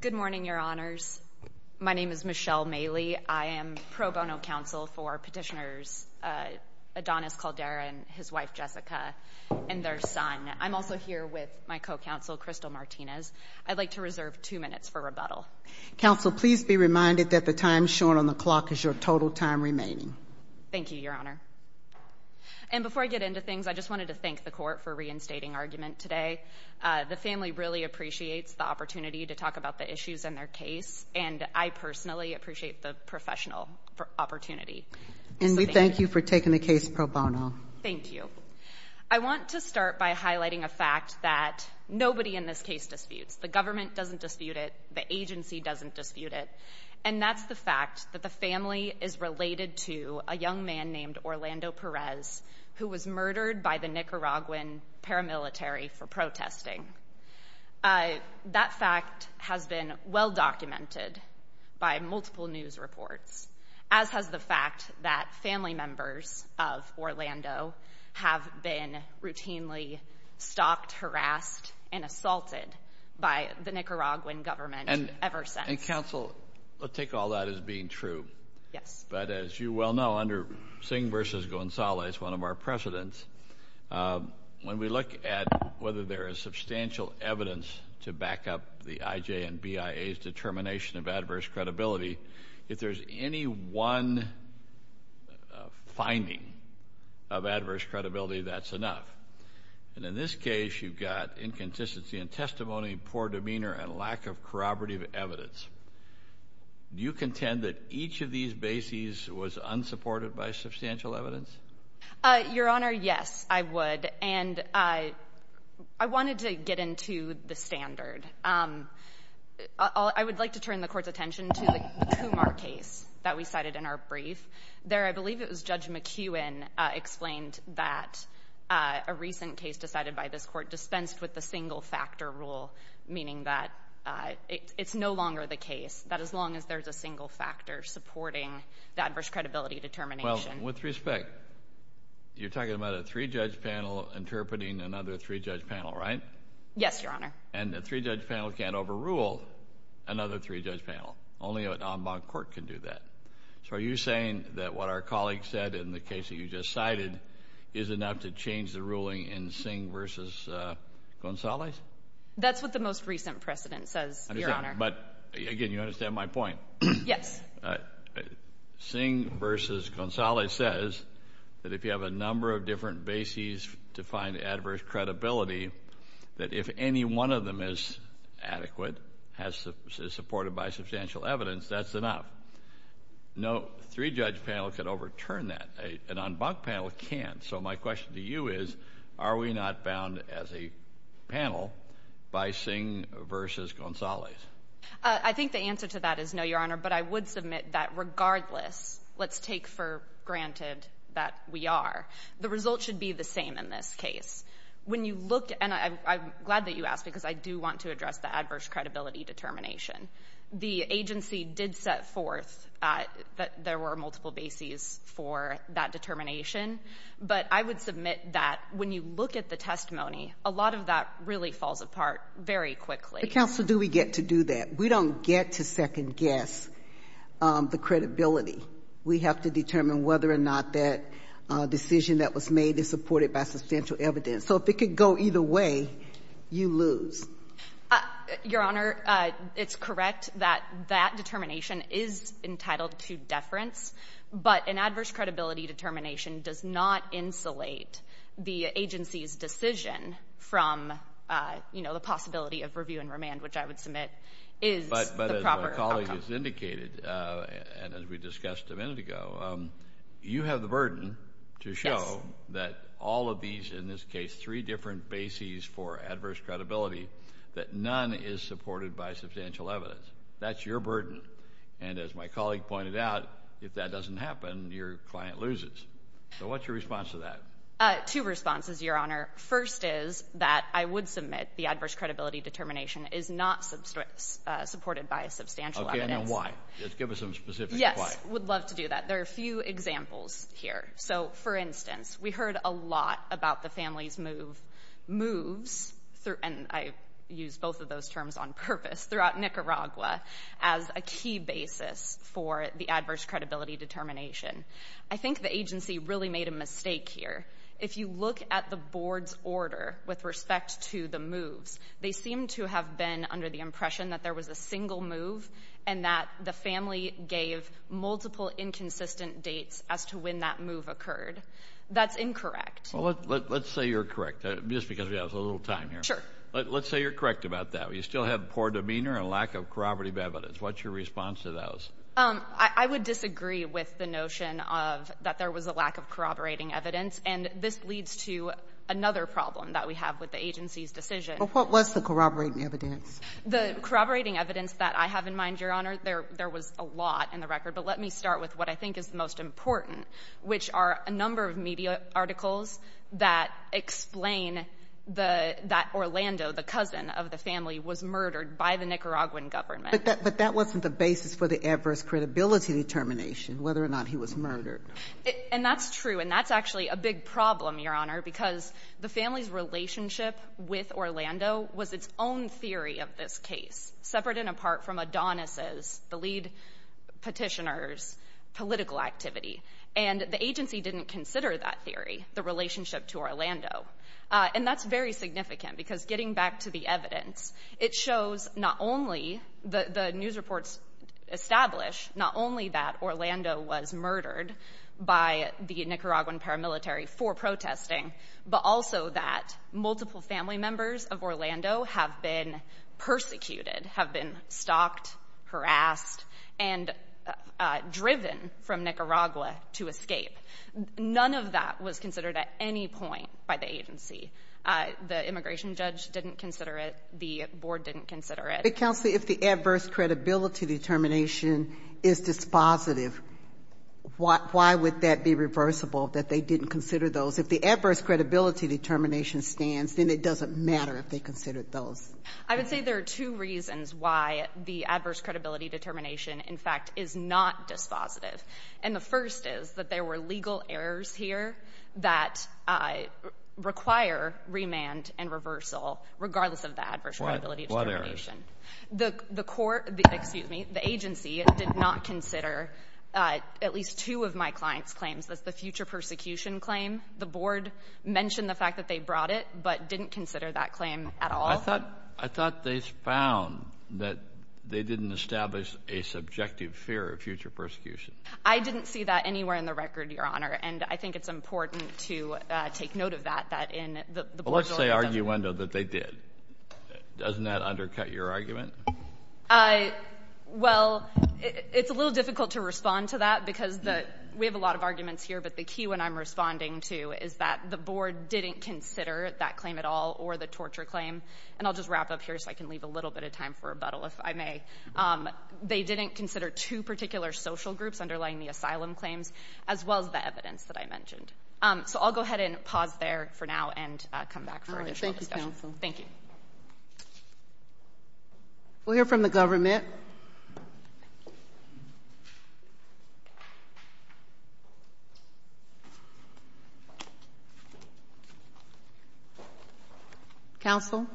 Good morning, your honors. My name is Michelle Mailey. I am pro bono counsel for petitioners Adonis Calderon, his wife Jessica, and their son. I'm also here with my co-counsel, Crystal Martinez. I'd like to reserve two minutes for rebuttal. Counsel, please be reminded that the time shown on the clock is your total time remaining. Thank you, your honor. And before I get into things, I just wanted to thank the court for reinstating argument today. The family really appreciates the opportunity to talk about the issues in their case, and I personally appreciate the professional opportunity. And we thank you for taking the case pro bono. Thank you. I want to start by highlighting a fact that nobody in this case disputes. The government doesn't dispute it. The agency doesn't dispute it. And that's the fact that the family is related to a young man named Orlando Perez, who was murdered by the Nicaraguan paramilitary for protesting. That fact has been well documented by multiple news reports, as has the fact that family members of Orlando have been routinely stalked, harassed, and assaulted by the Nicaraguan government ever since. And counsel, I'll take all that as being true. Yes. But as you well know, under Singh v. Gonzalez, one of our presidents, when we look at whether there is substantial evidence to back up the IJ and BIA's determination of adverse credibility, if there's any one finding of adverse credibility, that's enough. And in this case, you've got inconsistency in testimony, poor demeanor, and lack of corroborative evidence. Do you contend that each of these bases was unsupported by substantial evidence? Your Honor, yes, I would. And I wanted to get into the standard. I would like to turn the Court's attention to the Kumar case that we cited in our brief. There, I believe it was Judge McKeown explained that a recent case decided by this that it's no longer the case, that as long as there's a single factor supporting the adverse credibility determination. With respect, you're talking about a three-judge panel interpreting another three-judge panel, right? Yes, Your Honor. And a three-judge panel can't overrule another three-judge panel. Only an en banc court can do that. So are you saying that what our colleague said in the case that you just cited is enough to change the ruling in Singh v. Gonzalez? That's what the most recent precedent says, Your Honor. But again, you understand my point? Yes. Singh v. Gonzalez says that if you have a number of different bases to find adverse credibility, that if any one of them is adequate, is supported by substantial evidence, that's enough. No three-judge panel can overturn that. An en banc panel can't. So my question to you is, are we not bound as a panel by Singh v. Gonzalez? I think the answer to that is no, Your Honor. But I would submit that regardless, let's take for granted that we are, the result should be the same in this case. When you look, and I'm glad that you asked because I do want to address the adverse credibility determination. The agency did set forth that there were multiple bases for that determination. But I would submit that when you look at the testimony, a lot of that really falls apart very quickly. But counsel, do we get to do that? We don't get to second-guess the credibility. We have to determine whether or not that decision that was made is supported by substantial evidence. So if it could go either way, you lose. Your Honor, it's correct that that determination is entitled to deference. But an adverse credibility determination does not insulate the agency's decision from, you know, the possibility of review and remand, which I would submit is the proper outcome. But as my colleague has indicated, and as we discussed a minute ago, you have the burden to show that all of these, in this case, three different bases for adverse credibility, that none is supported by substantial evidence. That's your burden. And as my colleague pointed out, if that doesn't happen, your client loses. So what's your response to that? Two responses, Your Honor. First is that I would submit the adverse credibility determination is not supported by substantial evidence. Okay, and then why? Just give us some specific why. Yes. I would love to do that. There are a few examples here. So for instance, we heard a lot about the family's move, moves, and I use both of those terms on purpose, throughout Nicaragua, as a key basis for the adverse credibility determination. I think the agency really made a mistake here. If you look at the board's order with respect to the moves, they seem to have been under the impression that there was a single move and that the family gave multiple inconsistent dates as to when that move occurred. That's incorrect. Well, let's say you're correct, just because we have a little time here. Let's say you're correct about that. We still have poor demeanor and lack of corroborative evidence. What's your response to those? I would disagree with the notion of that there was a lack of corroborating evidence, and this leads to another problem that we have with the agency's decision. Well, what was the corroborating evidence? The corroborating evidence that I have in mind, Your Honor, there was a lot in the record, but let me start with what I think is the most important, which are a number of media articles that explain that Orlando, the cousin of the family, was murdered by the Nicaraguan government. But that wasn't the basis for the adverse credibility determination, whether or not he was murdered. And that's true, and that's actually a big problem, Your Honor, because the family's relationship with Orlando was its own theory of this case, separate and apart from Adonis's, the lead petitioner's, political activity. And the agency didn't consider that theory, the relationship to Orlando. And that's very significant, because getting back to the evidence, it shows not only the news reports establish not only that Orlando was murdered by the Nicaraguan paramilitary for protesting, but also that multiple family members of Orlando have been persecuted, have been stalked, harassed, and driven from Nicaragua to escape. None of that was considered at any point by the agency. The immigration judge didn't consider it. The board didn't consider it. But, Counselor, if the adverse credibility determination is dispositive, why would that be reversible that they didn't consider those? If the adverse credibility determination stands, then it doesn't matter if they considered those. I would say there are two reasons why the adverse credibility determination, in fact, is not dispositive. And the first is that there were legal errors here that require remand and reversal, regardless of the adverse credibility determination. What errors? The court — excuse me — the agency did not consider at least two of my client's That's the future persecution claim. The board mentioned the fact that they brought it, but didn't consider that claim at all. I thought they found that they didn't establish a subjective fear of future persecution. I didn't see that anywhere in the record, Your Honor. And I think it's important to take note of that, that in the board's orders of — Well, let's say, arguendo, that they did. Doesn't that undercut your argument? Well, it's a little difficult to respond to that because we have a lot of arguments here, but the key one I'm responding to is that the board didn't consider that claim at all or the torture claim. And I'll just wrap up here so I can leave a little bit of time for rebuttal, if I may. They didn't consider two particular social groups underlying the asylum claims, as well as the evidence that I mentioned. So I'll go ahead and pause there for now and come back for additional discussion. Thank you, Counsel. Thank you. We'll hear from the government. Counsel?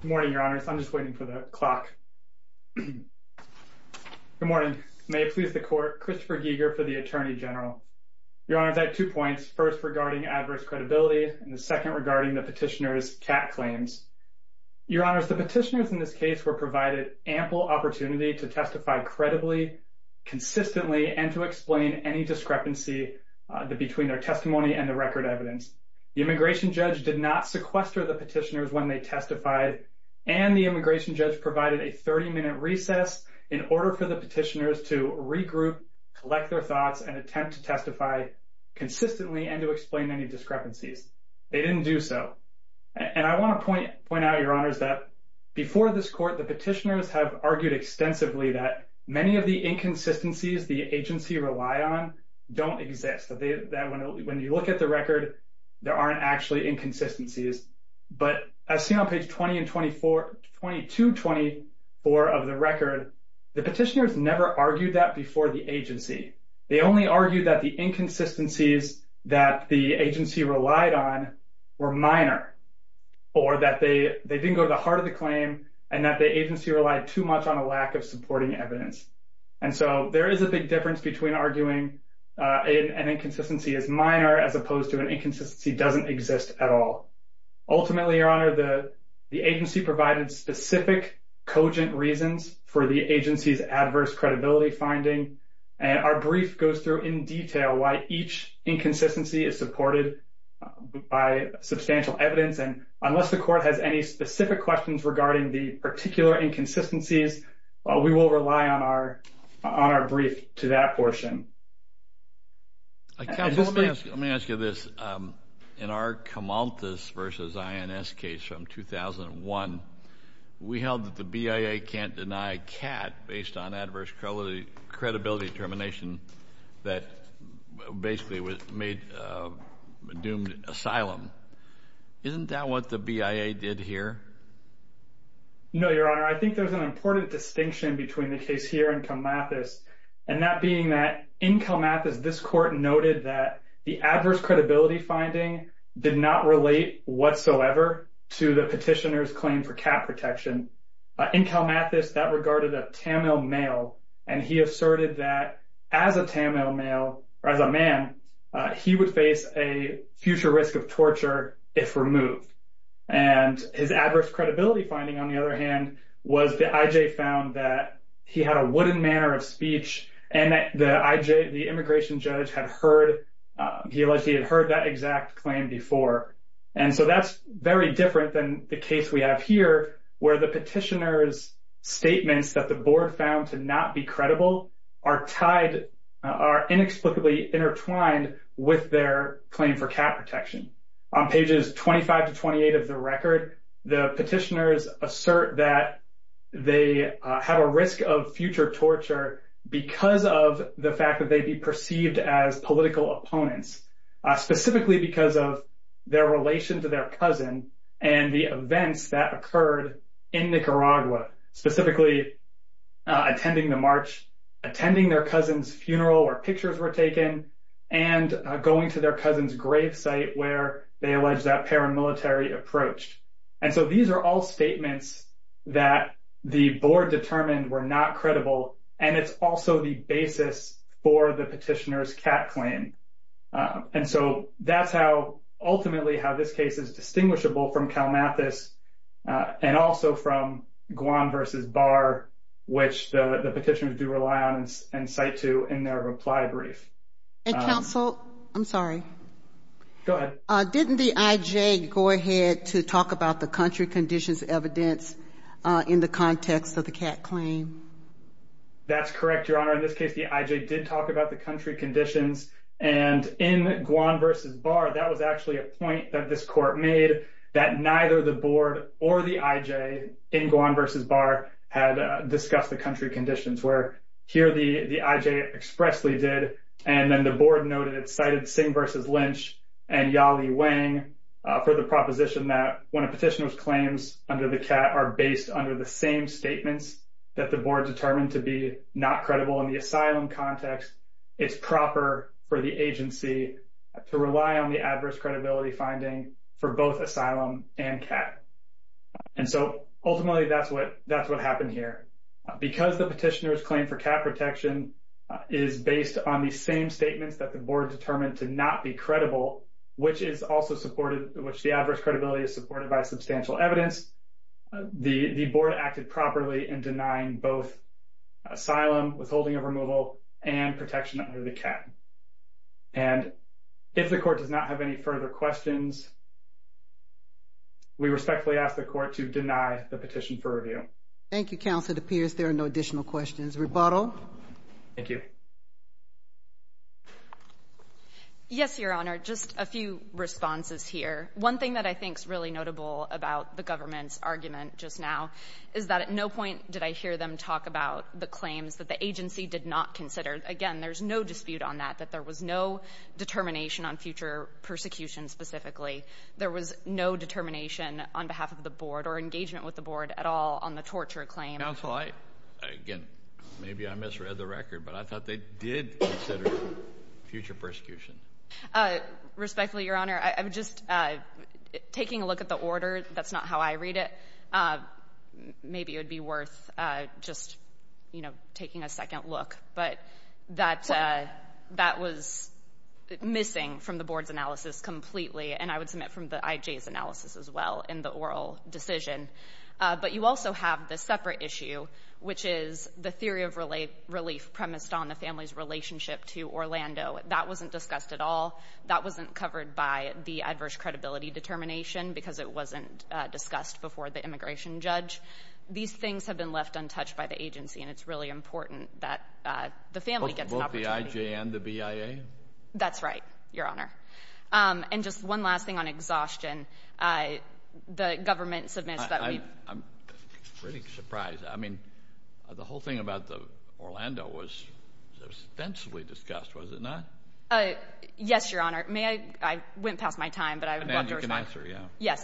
Good morning, Your Honors. I'm just waiting for the clock. Good morning. May it please the Court, Christopher Giger for the Attorney General. Your Honors, I have two points. First, regarding adverse credibility, and second, regarding the petitioner's cat claims. Your Honors, the petitioners in this case were provided ample opportunity to testify credibly, consistently, and to explain any discrepancy between their testimony and the record evidence. The immigration judge did not sequester the petitioners when they testified, and the immigration judge provided a 30-minute recess in order for the petitioners to regroup, collect their evidence, consistently, and to explain any discrepancies. They didn't do so. And I want to point out, Your Honors, that before this Court, the petitioners have argued extensively that many of the inconsistencies the agency relied on don't exist, that when you look at the record, there aren't actually inconsistencies. But as seen on page 20 and 24, 22-24 of the record, the petitioners never argued that before the agency. They only argued that the inconsistencies that the agency relied on were minor, or that they didn't go to the heart of the claim, and that the agency relied too much on a lack of supporting evidence. And so there is a big difference between arguing an inconsistency is minor as opposed to an inconsistency doesn't exist at all. Ultimately, Your Honor, the agency provided specific, cogent reasons for the agency's Our brief goes through in detail why each inconsistency is supported by substantial evidence. And unless the Court has any specific questions regarding the particular inconsistencies, we will rely on our brief to that portion. Counsel, let me ask you this. In our Camalthus v. INS case from 2001, we held that the BIA can't deny CAT based on credibility determination that basically doomed asylum. Isn't that what the BIA did here? No, Your Honor. I think there's an important distinction between the case here and Camalthus, and that being that in Camalthus, this Court noted that the adverse credibility finding did not relate whatsoever to the petitioner's claim for CAT protection. In Camalthus, that regarded a Tamil male, and he asserted that as a Tamil male, or as a man, he would face a future risk of torture if removed. And his adverse credibility finding, on the other hand, was the IJ found that he had a wooden manner of speech, and that the IJ, the immigration judge, had heard, he alleged he had heard that exact claim before. And so that's very different than the case we have here, where the petitioner's statements that the Board found to not be credible are tied, are inexplicably intertwined with their claim for CAT protection. On pages 25 to 28 of the record, the petitioners assert that they have a risk of future torture because of the fact that they'd be perceived as political opponents, specifically because of their relation to their cousin, and the events that occurred in Nicaragua, specifically attending the march, attending their cousin's funeral where pictures were taken, and going to their cousin's grave site where they alleged that paramilitary approached. And so these are all statements that the Board determined were not credible, and it's also the basis for the petitioner's CAT claim. And so that's how, ultimately, how this case is distinguishable from CalMathis, and also from Guam versus Barr, which the petitioners do rely on and cite to in their reply brief. And counsel, I'm sorry. Go ahead. Didn't the IJ go ahead to talk about the country conditions evidence in the context of the CAT claim? That's correct, Your Honor. In this case, the IJ did talk about the country conditions, and in Guam versus Barr, that was actually a point that this court made that neither the Board or the IJ in Guam versus Barr had discussed the country conditions, where here the IJ expressly did, and then the Board noted it cited Singh versus Lynch and Yali Wang for the proposition that when a petitioner's claims under the CAT are based under the same statements that the Board determined to be not credible in the asylum context, it's proper for the agency to rely on the adverse credibility finding for both asylum and CAT. And so, ultimately, that's what happened here. Because the petitioner's claim for CAT protection is based on the same statements that the Board determined to not be credible, which the adverse credibility is supported by substantial evidence, the Board acted properly in denying both asylum, withholding of removal, and protection under the CAT. And if the court does not have any further questions, we respectfully ask the court to deny the petition for review. Thank you, Counsel. It appears there are no additional questions. Rebuttal? Thank you. Yes, Your Honor. Just a few responses here. One thing that I think is really notable about the government's argument just now is that at no point did I hear them talk about the claims that the agency did not consider. Again, there's no dispute on that, that there was no determination on future persecution specifically. There was no determination on behalf of the Board or engagement with the Board at all on the torture claim. Counsel, I, again, maybe I misread the record, but I thought they did consider future persecution. Respectfully, Your Honor, I'm just taking a look at the order. That's not how I read it. Maybe it would be worth just, you know, taking a second look. But that was missing from the Board's analysis completely, and I would submit from the IJ's analysis as well in the oral decision. But you also have the separate issue, which is the theory of relief premised on the family's relationship to Orlando. That wasn't discussed at all. That wasn't covered by the adverse credibility determination because it wasn't discussed before the immigration judge. These things have been left untouched by the agency, and it's really important that the family gets an opportunity. Both the IJ and the BIA? That's right, Your Honor. And just one last thing on exhaustion. The government submits that we've... I'm really surprised. I mean, the whole thing about Orlando was ostensibly discussed, was it not? Yes, Your Honor. May I? I went past my time, but I want to respond. You can answer, yeah.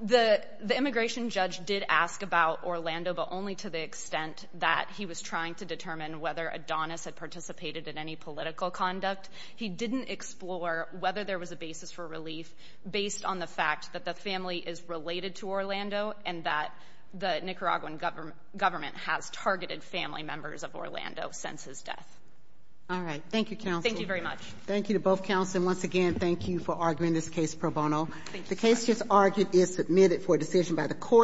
Yes. The immigration judge did ask about Orlando, but only to the extent that he was trying to determine whether Adonis had participated in any political conduct. He didn't explore whether there was a basis for relief based on the fact that the family is related to Orlando and that the Nicaraguan government has targeted family members of Orlando since his death. All right. Thank you, counsel. Thank you very much. Thank you to both counsel. And once again, thank you for arguing this case pro bono. Thank you, Your Honor. The case just argued is submitted for decision by the court.